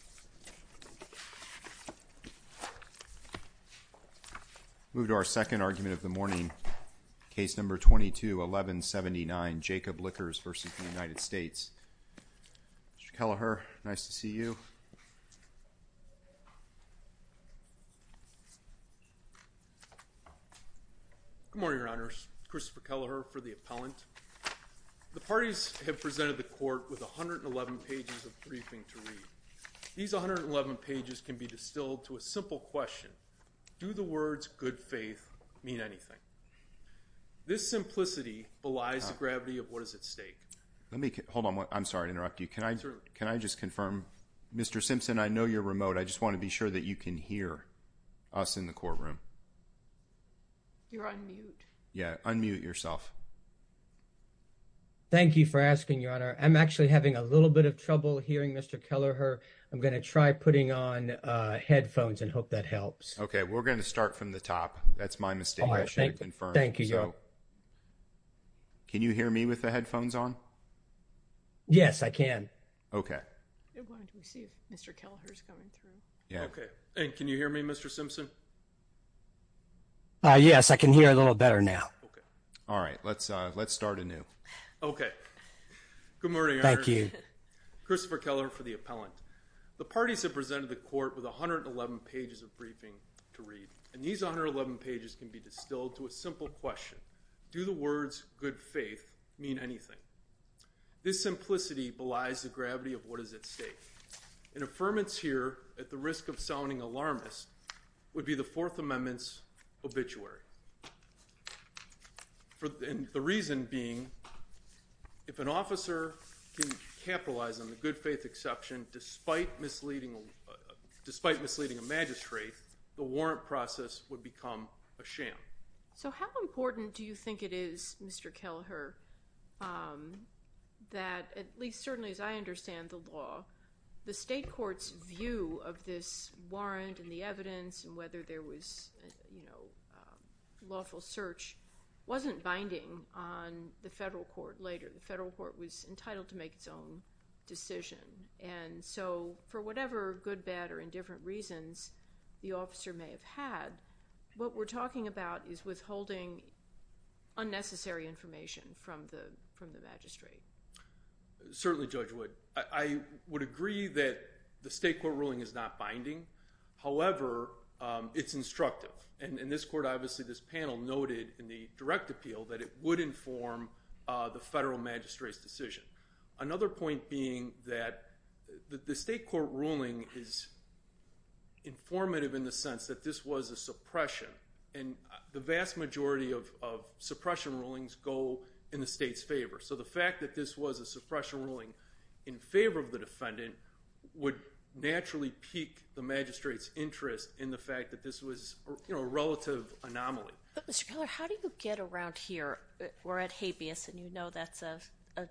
Christopher Kelleher Good morning, Your Honors. Christopher Kelleher for the Appellant. The these 111 pages can be distilled to a simple question. Do the words good faith mean anything? This simplicity belies the gravity of what is at stake. Let me hold on. I'm sorry to interrupt you. Can I just confirm, Mr. Simpson, I know you're remote. I just want to be sure that you can hear us in the courtroom. You're on mute. Yeah, unmute yourself. Thank you for asking, Your Honor. I'm actually having a little bit of trouble hearing Mr. Kelleher. I'm going to try putting on headphones and hope that helps. Okay, we're going to start from the top. That's my mistake. All right. Thank you. Thank you, Your Honor. Can you hear me with the headphones on? Yes, I can. Okay. Everyone can see Mr. Kelleher is coming through. Yeah. Okay. And can you hear me, Mr. Simpson? Yes, I can hear a little better now. Okay. All right. Let's start anew. Okay. Good morning, Your Honor. Thank you. Christopher Kelleher for the appellant. The parties have presented the court with 111 pages of briefing to read. And these 111 pages can be distilled to a simple question. Do the words good faith mean anything? This simplicity belies the gravity of what is at stake. An affirmance here, at the risk of sounding alarmist, would be the Fourth Amendment's exception, despite misleading a magistrate, the warrant process would become a sham. So how important do you think it is, Mr. Kelleher, that, at least certainly as I understand the law, the state court's view of this warrant and the evidence and whether there was a lawful search wasn't binding on the decision? And so, for whatever good, bad, or indifferent reasons the officer may have had, what we're talking about is withholding unnecessary information from the magistrate. Certainly, Judge Wood. I would agree that the state court ruling is not binding. However, it's instructive. And in this court, obviously, this panel noted in the direct appeal that it would inform the federal magistrate's decision. Another point being that the state court ruling is informative in the sense that this was a suppression. And the vast majority of suppression rulings go in the state's favor. So the fact that this was a suppression ruling in favor of the defendant would naturally pique the magistrate's interest in the fact that this was a relative anomaly. But Mr. Kelleher, how do you get around here? We're at habeas, and you know that's a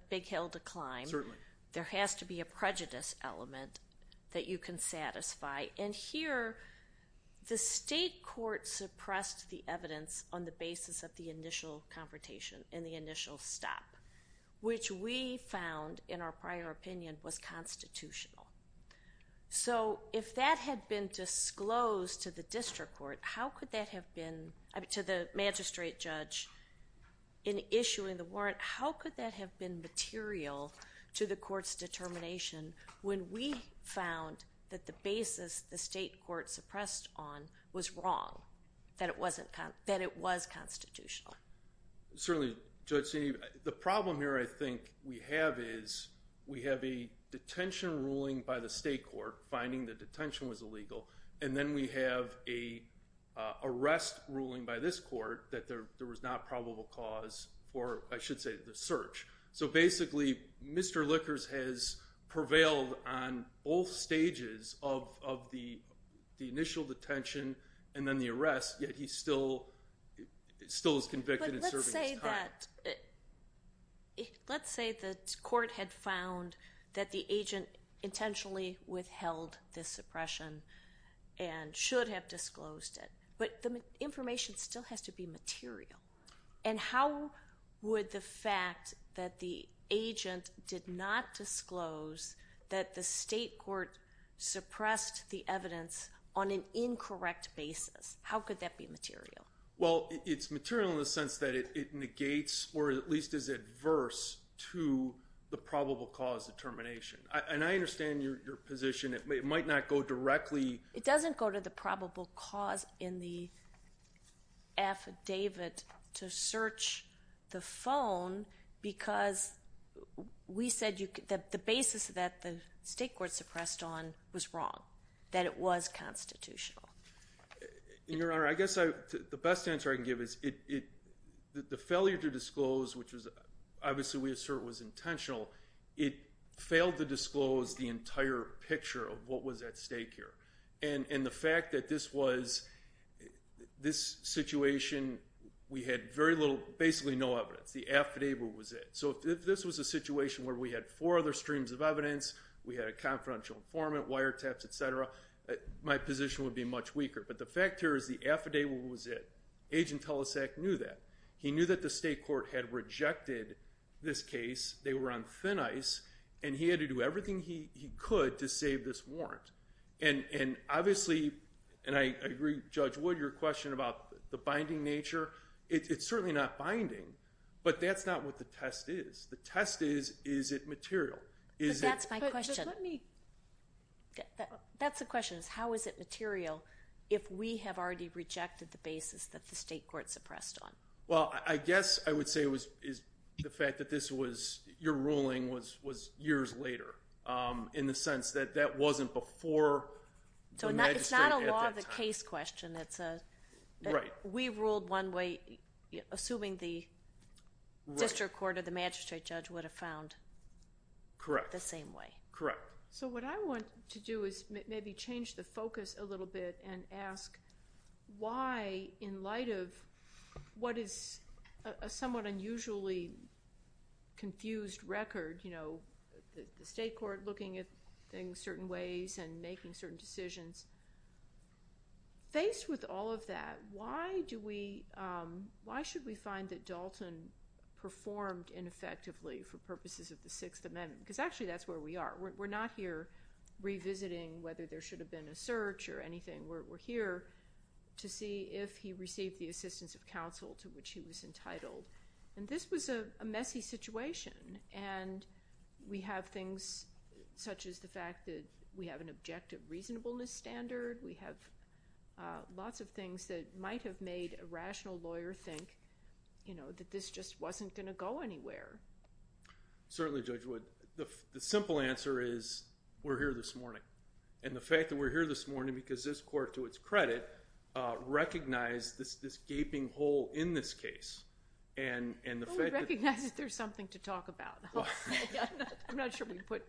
big hill to climb. Certainly. There has to be a prejudice element that you can satisfy. And here, the state court suppressed the evidence on the basis of the initial confrontation and the initial stop, which we found, in our prior opinion, was constitutional. So if that had been disclosed to the district court, how could that have been—to the in issuing the warrant, how could that have been material to the court's determination when we found that the basis the state court suppressed on was wrong, that it was constitutional? Certainly. Judge, the problem here, I think, we have is we have a detention ruling by the state court finding the detention was illegal. And then we have an arrest ruling by this court that there was not probable cause for, I should say, the search. So basically, Mr. Lickers has prevailed on all stages of the initial detention and then the arrest, yet he still is convicted in serving his time. But let's say the court had found that the agent intentionally withheld this suppression and should have disclosed it. But the information still has to be material. And how would the fact that the agent did not disclose that the state court suppressed the evidence on an incorrect basis, how could that be material? Well, it's material in the sense that it negates or at least is adverse to the probable cause determination. And I understand your position. It might not go directly— It doesn't go to the probable cause in the affidavit to search the phone because we said the basis that the state court suppressed on was wrong, that it was constitutional. And, Your Honor, I guess the best answer I can give is the failure to disclose, which was obviously we assert was intentional, it failed to disclose the entire picture of what was at stake here. And the fact that this situation, we had very little, basically no evidence. The affidavit was it. So if this was a situation where we had four other streams of evidence, we had a confidential informant, wiretaps, et cetera, my position would be much weaker. But the fact here is the affidavit was it. Agent Telesek knew that. He knew that the state court had rejected this case. They were on thin ice. And he had to do everything he could to save this warrant. And obviously, and I agree, Judge Wood, your question about the binding nature, it's certainly not binding. But that's not what the test is. The test is, is it material? But that's my question. Just let me. That's the question, is how is it material if we have already rejected the basis that the state court suppressed on? Well, I guess I would say it was the fact that this was, your ruling was years later in the sense that that wasn't before the magistrate at that time. So it's not a law of the case question. It's a, we ruled one way, assuming the district court or the magistrate judge would have found the same way. Correct. So what I want to do is maybe change the focus a little bit and ask why, in light of what is a somewhat unusually confused record, you know, the state court looking at things certain ways and making certain decisions, faced with all of that, why do we, why should we find that Dalton performed ineffectively for purposes of the Sixth Amendment? Because actually that's where we are. We're not here revisiting whether there should have been a search or anything. We're here to see if he received the assistance of counsel to which he was entitled. And this was a messy situation. And we have things such as the fact that we have an objective reasonableness standard. We have lots of things that might have made a rational lawyer think, you know, that this just wasn't going to go anywhere. Certainly, Judge Wood. The simple answer is we're here this morning. And the fact that we're here this morning because this court, to its credit, recognized this gaping hole in this case. Well, we recognize that there's something to talk about. I'm not sure we put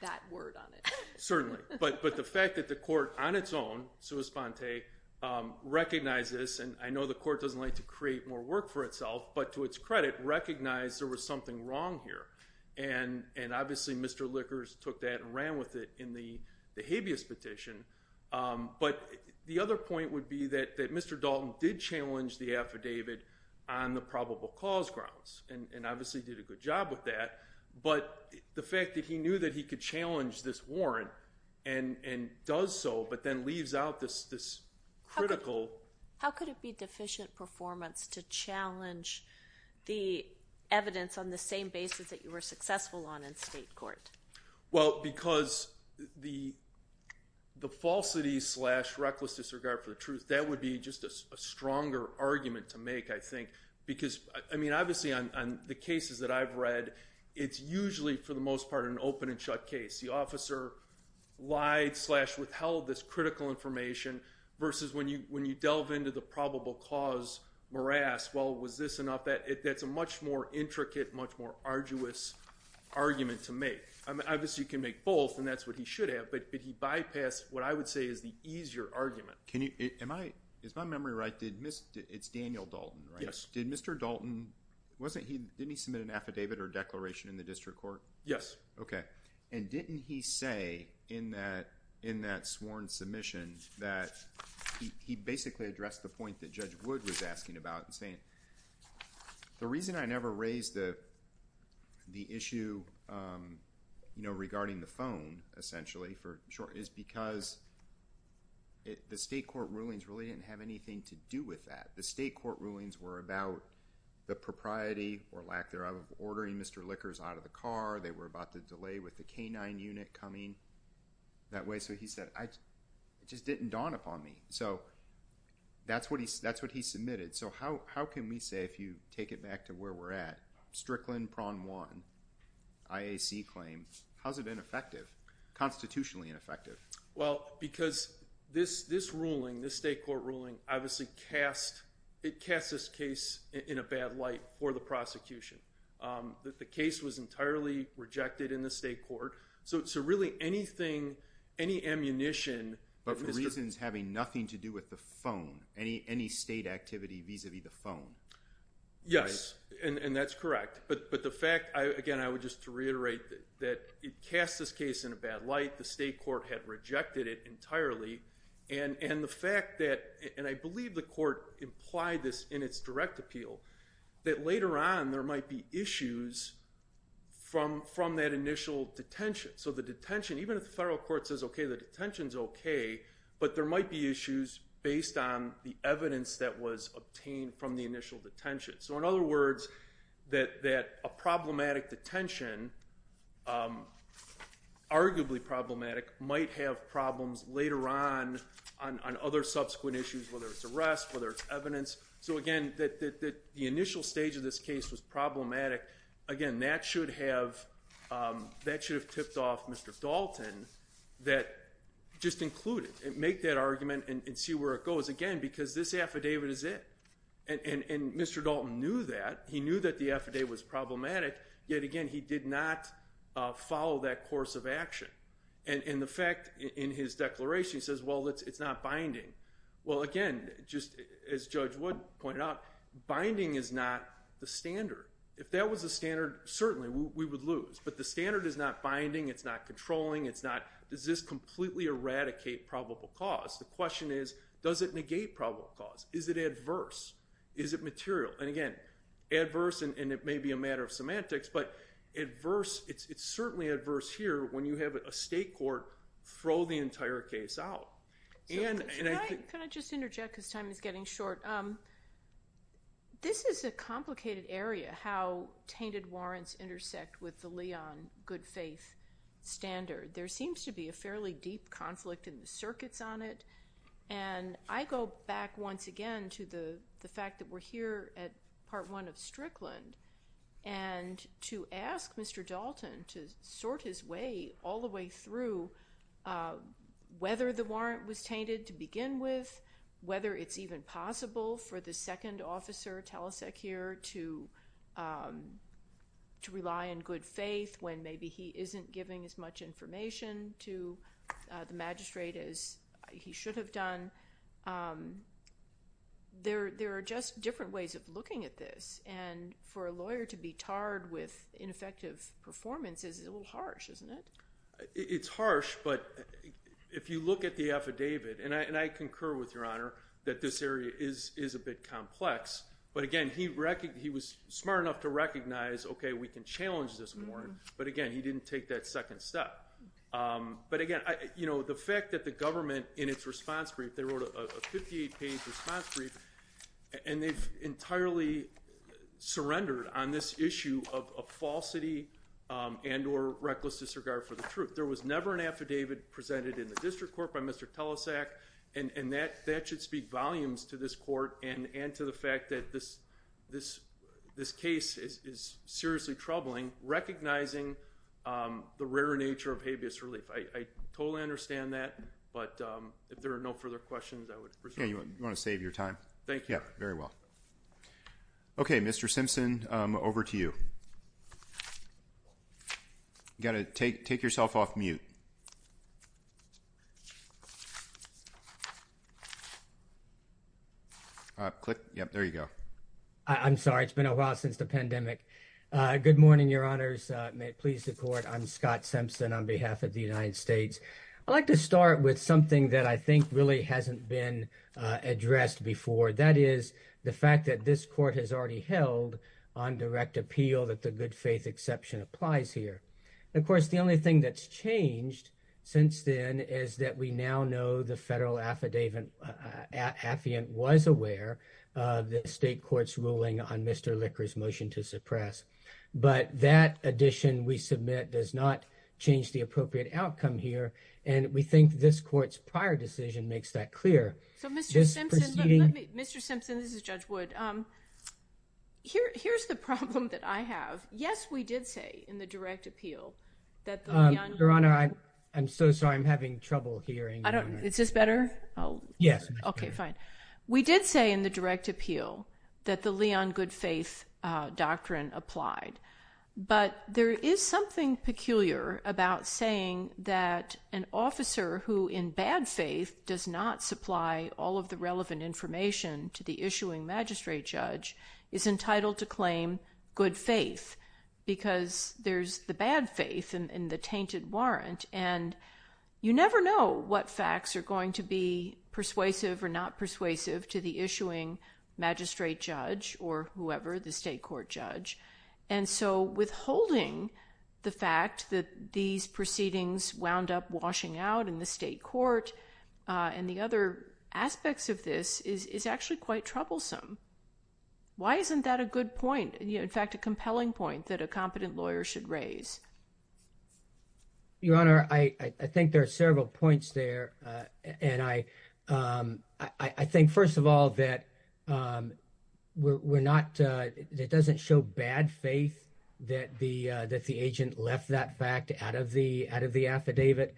that word on it. Certainly. But the fact that the court on its own, sua sponte, recognizes, and I know the court doesn't like to create more work for itself, but to its credit, recognized there was something wrong here. And obviously, Mr. Lickers took that and ran with it in the habeas petition. But the other point would be that Mr. Dalton did challenge the affidavit on the probable cause grounds and obviously did a good job with that. But the fact that he knew that he could challenge this warrant and does so but then leaves out this critical. How could it be deficient performance to challenge the evidence on the same basis that you were successful on in state court? Well, because the falsity slash reckless disregard for the truth, that would be just a stronger argument to make, I think. Because, I mean, obviously, on the cases that I've read, it's usually, for the most part, an open and shut case. The officer lied slash withheld this critical information versus when you delve into the probable cause morass. Well, was this enough? That's a much more intricate, much more arduous argument to make. Obviously, you can make both, and that's what he should have. But he bypassed what I would say is the easier argument. Is my memory right? It's Daniel Dalton, right? Yes. Did Mr. Dalton, didn't he submit an affidavit or declaration in the district court? Yes. OK. Didn't he say in that sworn submission that he basically addressed the point that Judge Wood was asking about and saying, the reason I never raised the issue regarding the phone, essentially, is because the state court rulings really didn't have anything to do with that. The state court rulings were about the propriety or lack thereof of ordering Mr. Lickers out of the car. They were about the delay with the K-9 unit coming that way. So he said, it just didn't dawn upon me. So that's what he submitted. So how can we say, if you take it back to where we're at, Strickland, Prawn 1, IAC claim, how's it been effective, constitutionally effective? Well, because this ruling, this state court ruling, obviously, it casts this case in a bad light for the prosecution. That the case was entirely rejected in the state court. So really, anything, any ammunition. But for reasons having nothing to do with the phone, any state activity vis-a-vis the phone. Yes. And that's correct. But the fact, again, I would just reiterate that it cast this case in a bad light. The state court had rejected it entirely. And the fact that, and I believe the court implied this in its direct appeal, that later on, there might be issues from that initial detention. So the detention, even if the federal court says, OK, the detention's OK, but there might be issues based on the evidence that was obtained from the initial detention. So in other words, that a problematic detention, arguably problematic, might have problems later on, on other subsequent issues, whether it's arrest, whether it's evidence. So again, the initial stage of this case was problematic. Again, that should have tipped off Mr. Dalton that just include it. Make that argument and see where it goes. Again, because this affidavit is it. And Mr. Dalton knew that. He knew that the affidavit was problematic. Yet again, he did not follow that course of action. And the fact, in his declaration, he says, well, it's not binding. Well, again, just as Judge Wood pointed out, binding is not the standard. If that was the standard, certainly we would lose. But the standard is not binding. It's not controlling. It's not, does this completely eradicate probable cause? The question is, does it negate probable cause? Is it adverse? Is it material? And again, adverse, and it may be a matter of semantics, but adverse, it's certainly adverse here when you have a state court throw the entire case out. And can I just interject because time is getting short. This is a complicated area, how tainted warrants intersect with the Leon good faith standard. There seems to be a fairly deep conflict in the circuits on it. And I go back once again to the fact that we're here at part one of Strickland. And to ask Mr. Dalton to sort his way all the way through whether the warrant was tainted to begin with, whether it's even possible for the second officer, Talasek here, to rely on good faith when maybe he isn't giving as much information to the magistrate as he should have done, there are just different ways of looking at this. And for a lawyer to be tarred with ineffective performance is a little harsh, isn't it? It's harsh. But if you look at the affidavit, and I concur with your honor, that this area is a bit complex. But again, he was smart enough to recognize, okay, we can challenge this warrant. But again, he didn't take that second step. But again, the fact that the government in its response brief, they wrote a 58 page response brief, and they've entirely surrendered on this issue of falsity and or reckless disregard for the truth. There was never an affidavit presented in the district court by Mr. Talasek. And that should speak volumes to this court and to the fact that this case is seriously troubling, recognizing the rare nature of habeas relief. I totally understand that. But if there are no further questions, I would proceed. You want to save your time? Thank you. Very well. Okay, Mr. Simpson, over to you. You got to take yourself off mute. Click. There you go. I'm sorry. It's been a while since the pandemic. Good morning, Your Honors. May it please the court. I'm Scott Simpson on behalf of the United States. I'd like to start with something that I think really hasn't been addressed before. That is the fact that this court has already held on direct appeal that the good faith exception applies here. Of course, the only thing that's changed since then is that we now know the federal affidavit affiant was aware of the state court's ruling on Mr. Licker's motion to suppress. But that addition we submit does not change the appropriate outcome here. And we think this court's prior decision makes that clear. Mr. Simpson, this is Judge Wood. Here's the problem that I have. Yes, we did say in the direct appeal. Your Honor, I'm so sorry. I'm having trouble hearing. I don't. Is this better? Yes. Okay, fine. We did say in the direct appeal that the Leon good faith doctrine applied. But there is something peculiar about saying that an officer who in bad faith does not supply all of the relevant information to the issuing magistrate judge is entitled to claim good faith because there's the bad faith in the tainted warrant. And you never know what facts are going to be persuasive or not persuasive to the issuing magistrate judge or whoever the state court judge. And so withholding the fact that these proceedings wound up washing out in the state court and the other aspects of this is actually quite troublesome. Why isn't that a good point? In fact, a compelling point that a competent lawyer should raise. Your Honor, I think there are several points there, and I think, first of all, that it doesn't show bad faith that the agent left that fact out of the affidavit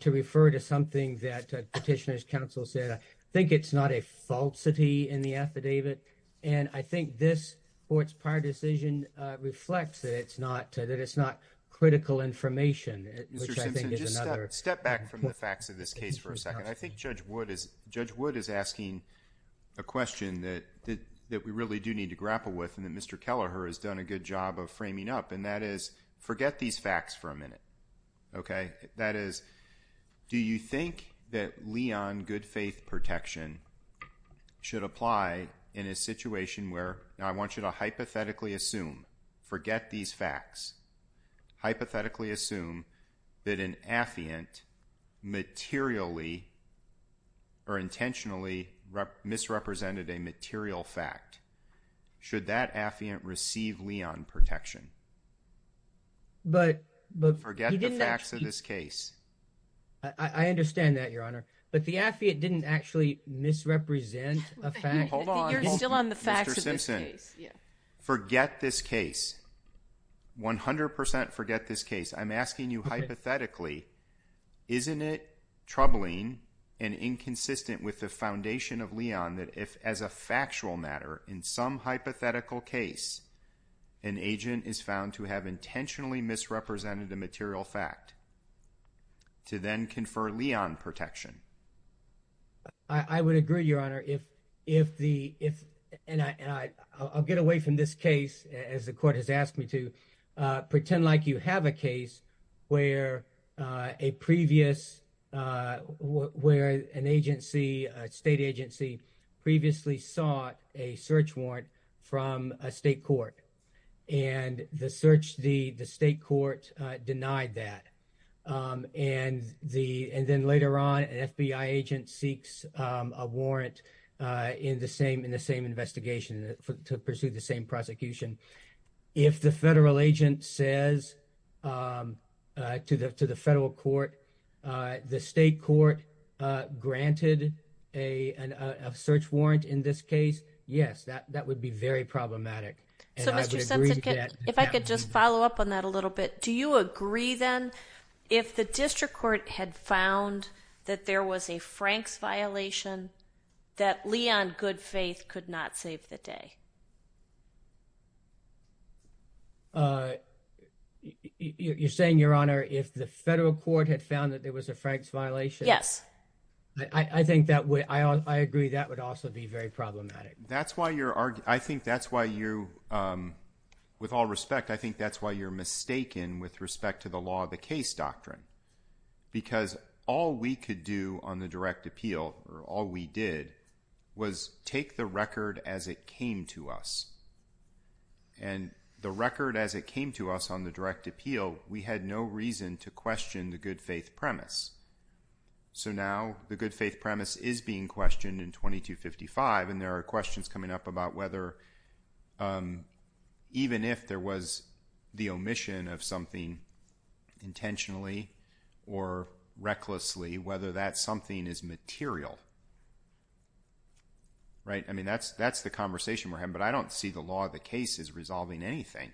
to refer to something that petitioners counsel said. I think it's not a falsity in the affidavit. And I think this court's prior decision reflects that it's not that it's not critical information, which I think is another step back from the facts of this case for a second. I think Judge Wood is Judge Wood is asking a question that that we really do need to grapple with and that Mr. Kelleher has done a good job of framing up. OK, that is, do you think that Leon good faith protection should apply in a situation where I want you to hypothetically assume forget these facts, hypothetically assume that an affidavit materially or intentionally misrepresented a material fact? Should that affidavit receive Leon protection? But but forget the facts of this case, I understand that, Your Honor, but the affidavit didn't actually misrepresent a fact. Hold on. You're still on the facts of this case. Forget this case. 100% forget this case. I'm asking you hypothetically. Isn't it troubling and inconsistent with the foundation of Leon that if as a factual matter in some hypothetical case, an agent is found to have intentionally misrepresented a material fact? To then confer Leon protection. I would agree, Your Honor, if if the if and I I'll get away from this case as the court has asked me to pretend like you have a case where a previous where an agency, a state agency previously sought a search warrant from a state court and the search the the state court denied that and the and then later on an FBI agent seeks a warrant in the same in the same investigation to pursue the same prosecution. If the federal agent says to the to the federal court, the state court granted a search warrant in this case. Yes, that that would be very problematic. So, Mr. Sensen, if I could just follow up on that a little bit, do you agree then if the district court had found that there was a Frank's violation that Leon good faith could not save the day? Uh, you're saying, Your Honor, if the federal court had found that there was a Frank's violation? Yes, I think that way. I I agree. That would also be very problematic. That's why you're arguing. I think that's why you with all respect. I think that's why you're mistaken with respect to the law of the case doctrine. Because all we could do on the direct appeal or all we did was take the record as it came to us and the record as it came to us on the direct appeal, we had no reason to question the good faith premise. So now the good faith premise is being questioned in 22 55. And there are questions coming up about whether even if there was the omission of something intentionally or recklessly, whether that something is material. Right. I mean, that's that's the conversation we're having, but I don't see the law of the case is resolving anything.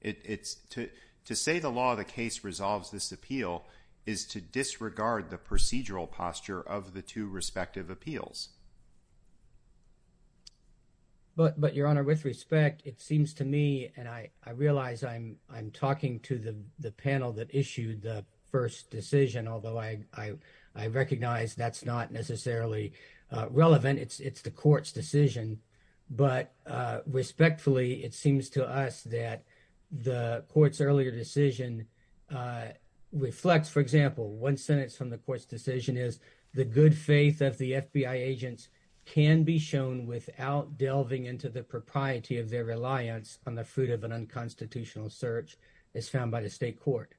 It's to to say the law of the case resolves this appeal is to disregard the procedural posture of the two respective appeals. But but, Your Honor, with respect, it seems to me and I I realize I'm I'm talking to the the panel that issued the first decision, although I I I recognize that's not necessarily relevant. It's it's the court's decision. But respectfully, it seems to us that the court's earlier decision reflects, for example, one sentence from the court's decision is the good faith of the FBI agents can be shown without delving into the propriety of their reliance on the fruit of an unconstitutional search as found by the state court.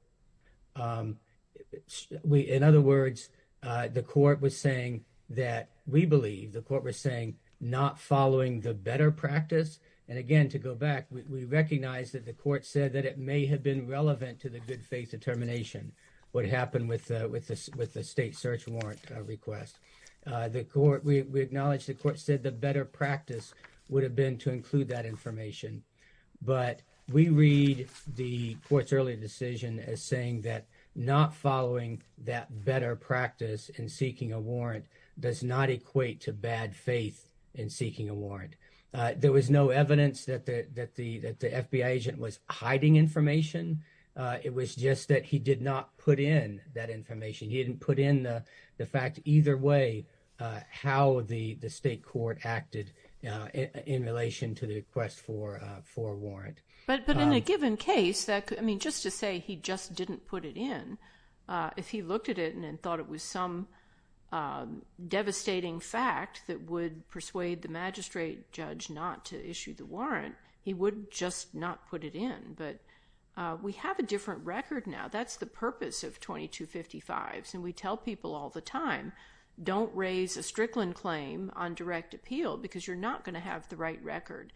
Um, we in other words, the court was saying that we believe the court was saying not following the better practice. And again, to go back, we recognize that the court said that it may have been relevant to the good faith determination. What happened with with with the state search warrant request, the court, we acknowledge the court said the better practice would have been to include that information. But we read the court's early decision as saying that not following that better practice and seeking a warrant does not equate to bad faith in seeking a warrant. There was no evidence that the that the that the FBI agent was hiding information. It was just that he did not put in that information. He didn't put in the fact either way how the state court acted in relation to the request for for warrant. But but in a given case that I mean, just to say he just didn't put it in, if he looked at it and thought it was some devastating fact that would persuade the magistrate judge not to issue the warrant, he would just not put it in. But we have a different record now. That's the purpose of 2255. And we tell people all the time, don't raise a Strickland claim on direct appeal because you're not going to have the right record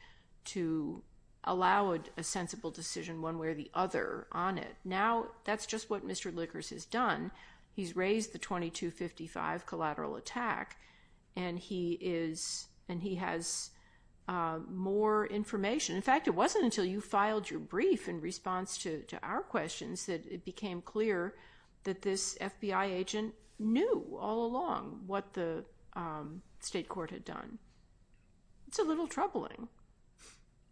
to allow a sensible decision one way or the other on it. Now, that's just what Mr. Lickers has done. He's raised the 2255 collateral attack and he is and he has more information. In fact, it wasn't until you filed your brief in response to our questions that it became clear that this FBI agent knew all along what the state court had done. It's a little troubling.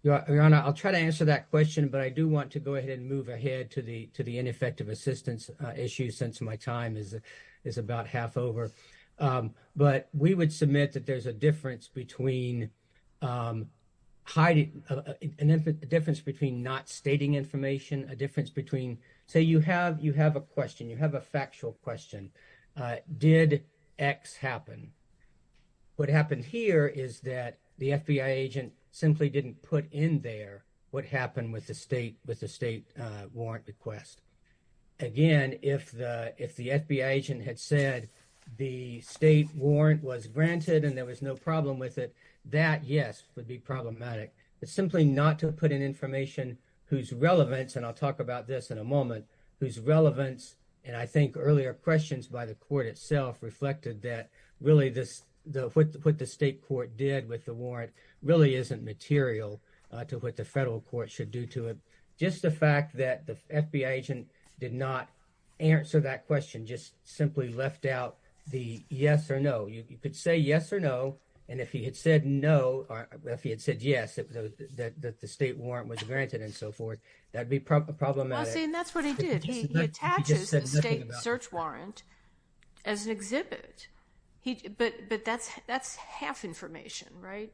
Your Honor, I'll try to answer that question. But I do want to go ahead and move ahead to the to the ineffective assistance issue since my time is is about half over. But we would submit that there's a difference between hiding a difference between not stating information, a difference between, say, you have you have a question, you have a factual question, did X happen? What happened here is that the FBI agent simply didn't put in there what happened with the state with the state warrant request. Again, if the if the FBI agent had said the state warrant was granted and there was no problem with it, that, yes, would be problematic. But simply not to put in information whose relevance and I'll talk about this in a moment, whose relevance. And I think earlier questions by the court itself reflected that really this what the state court did with the warrant really isn't material to what the federal court should do to it. Just the fact that the FBI agent did not answer that question, just simply left out the yes or no. You could say yes or no. And if he had said no or if he had said yes, that the state warrant was granted and so forth, that'd be problematic. And that's what he did. He attaches the state search warrant as an exhibit. But but that's that's half information, right?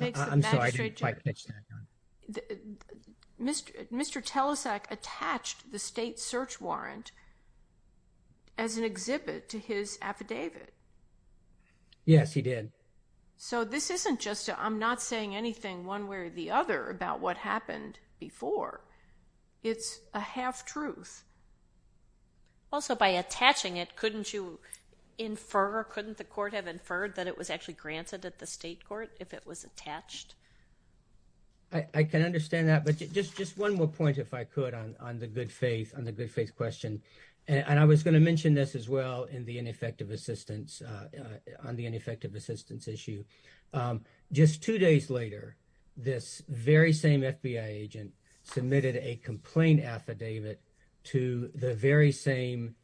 I'm sorry, I didn't quite catch that. Mr. Telesak attached the state search warrant. As an exhibit to his affidavit. Yes, he did. So this isn't just I'm not saying anything one way or the other about what happened before. It's a half truth. Also, by attaching it, couldn't you infer, couldn't the court have inferred that it was actually granted at the state court if it was attached? I can understand that, but just just one more point, if I could, on the good faith on the good faith question. And I was going to mention this as well in the ineffective assistance on the ineffective assistance issue. Just two days later, this very same FBI agent submitted a complaint affidavit to the very same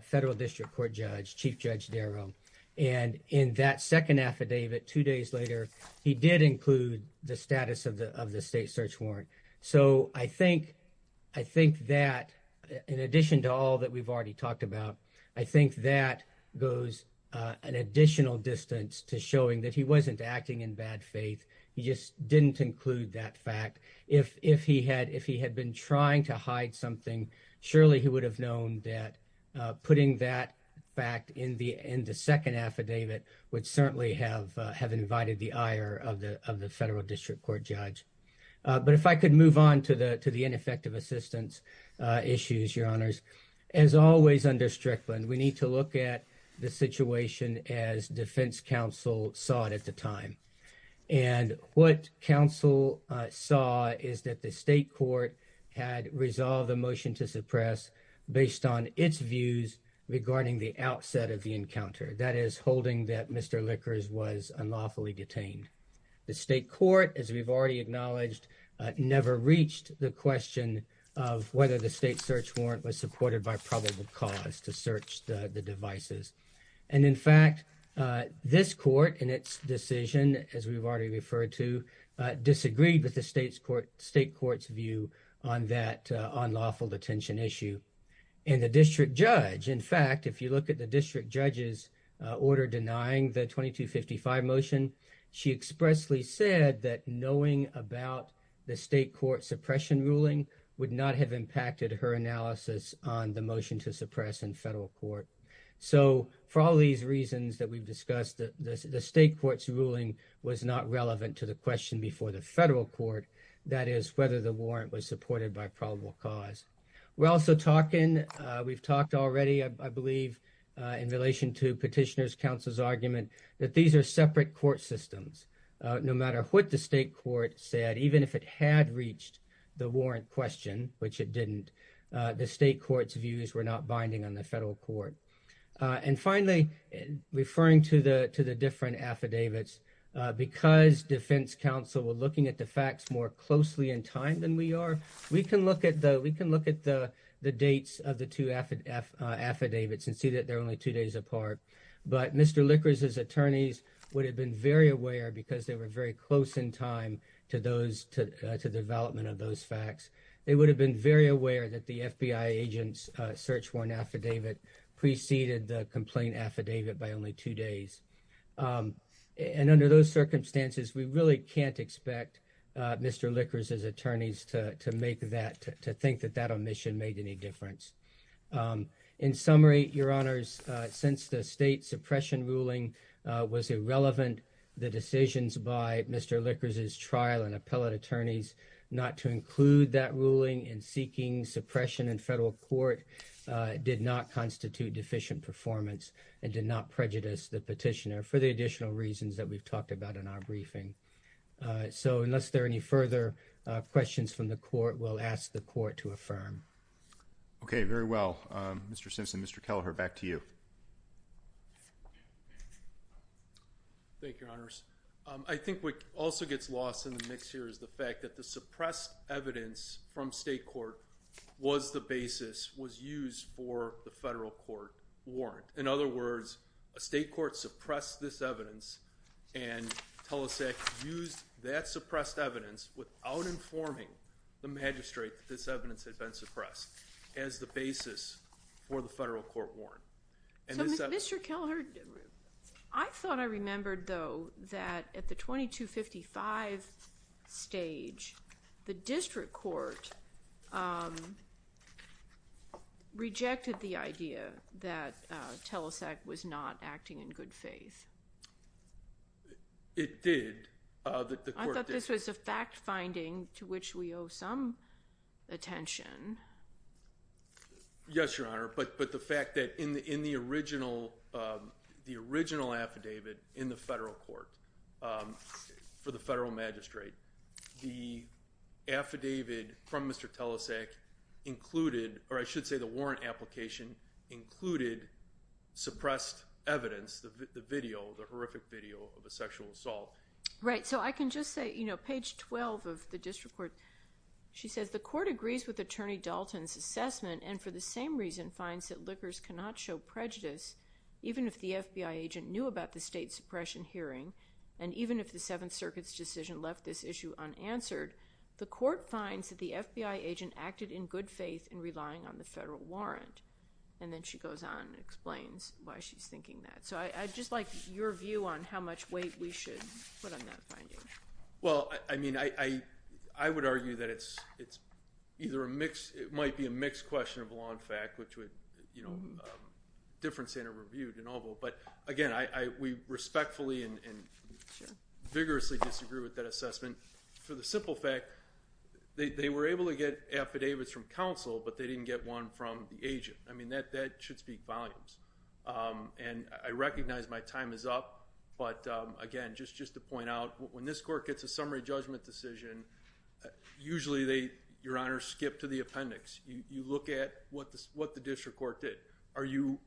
federal district court judge, Chief Judge Darrow. And in that second affidavit, two days later, he did include the status of the of the state search warrant. So I think I think that in addition to all that we've already talked about, I think that goes an additional distance to showing that he wasn't acting in bad faith. He just didn't include that fact. If if he had if he had been trying to hide something, surely he would have known that putting that back in the in the second affidavit would certainly have have invited the ire of the of the federal district court judge. But if I could move on to the to the ineffective assistance issues, your honors, as always under Strickland, we need to look at the situation as defense counsel saw it at the time. And what counsel saw is that the state court had resolved the motion to suppress based on its views regarding the outset of the encounter that is holding that Mr. Lickers was unlawfully detained. The state court, as we've already acknowledged, never reached the question of whether the search warrant was supported by probable cause to search the devices. And in fact, this court in its decision, as we've already referred to, disagreed with the state's court, state court's view on that unlawful detention issue. And the district judge, in fact, if you look at the district judge's order denying the twenty two fifty five motion, she expressly said that knowing about the state court suppression ruling would not have impacted her analysis on the motion to suppress in federal court. So for all these reasons that we've discussed, the state court's ruling was not relevant to the question before the federal court, that is, whether the warrant was supported by probable cause. We're also talking we've talked already, I believe, in relation to petitioners counsel's argument that these are separate court systems, no matter what the state court said, even if it had reached the warrant question, which it didn't. The state court's views were not binding on the federal court. And finally, referring to the to the different affidavits, because defense counsel were looking at the facts more closely in time than we are. We can look at the we can look at the the dates of the two affidavits and see that they're only two days apart. But Mr. Liquors, his attorneys would have been very aware because they were very close in time to those to the development of those facts. They would have been very aware that the FBI agents search warrant affidavit preceded the complaint affidavit by only two days. And under those circumstances, we really can't expect Mr. Liquors, his attorneys to make that to think that that omission made any difference. In summary, your honors, since the state suppression ruling was irrelevant, the decisions by Mr. Liquors, his trial and appellate attorneys not to include that ruling in seeking suppression in federal court did not constitute deficient performance and did not prejudice the petitioner for the additional reasons that we've talked about in our briefing. So unless there are any further questions from the court, we'll ask the court to affirm. OK, very well, Mr. Simpson, Mr. Kelleher, back to you. Thank you, your honors. I think what also gets lost in the mix here is the fact that the suppressed evidence from state court was the basis was used for the federal court warrant. In other words, a state court suppress this evidence and tell us that used that suppressed evidence without informing the magistrate that this evidence had been suppressed as the basis for the federal court warrant. Mr. Kelleher, I thought I remembered, though, that at the twenty two fifty five stage, the district court. Rejected the idea that TELUSAC was not acting in good faith. It did. I thought this was a fact finding to which we owe some attention. Yes, your honor. But but the fact that in the in the original the original affidavit in the federal court for the federal magistrate, the affidavit from Mr. TELUSAC included or I should say the warrant application included suppressed evidence, the video, the horrific video of a sexual assault. Right. So I can just say, you know, page twelve of the district court. She says the court agrees with Attorney Dalton's assessment and for the same reason, finds that Lickers cannot show prejudice even if the FBI agent knew about the state suppression hearing. And even if the Seventh Circuit's decision left this issue unanswered, the court finds that the FBI agent acted in good faith and relying on the federal warrant. And then she goes on and explains why she's thinking that. So I just like your view on how much weight we should put on that finding. Well, I mean, I I would argue that it's it's either a mix. It might be a mixed question of law and fact, which would, you know, difference in a review to novel. But again, I we respectfully and vigorously disagree with that assessment for the simple fact they were able to get affidavits from counsel, but they didn't get one from the agent. I mean, that that should speak volumes. And I recognize my time is up. But again, just just to point out when this court gets a summary judgment decision, usually they, your honor, skip to the appendix. You look at what the what the district court did. Are you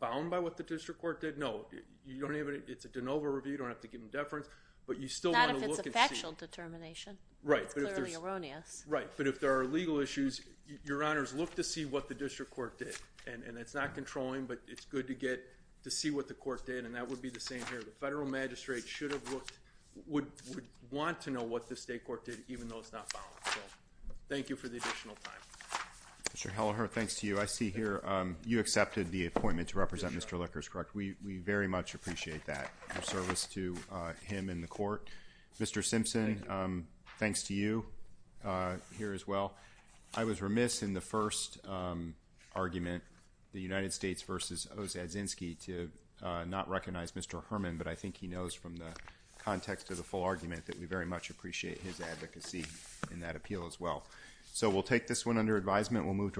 bound by what the district court did? No, you don't even it's a de novo review. You don't have to give him deference, but you still want to look at factual determination, right? Clearly erroneous, right? But if there are legal issues, your honors look to see what the district court did. And it's not controlling, but it's good to get to see what the court did. And that would be the same here. The federal magistrate should have looked would would want to know what the state court did, even though it's not found. So thank you for the additional time. Mr. Helleher, thanks to you. I see here you accepted the appointment to represent Mr. Lickers, correct? We very much appreciate that service to him in the court. Mr. Simpson, thanks to you here as well. I was remiss in the first argument, the United States versus Ozadzinski to not recognize Mr. Herman. But I think he knows from the context of the full argument that we very much appreciate his advocacy in that appeal as well. So we'll take this one under advisement. We'll move to.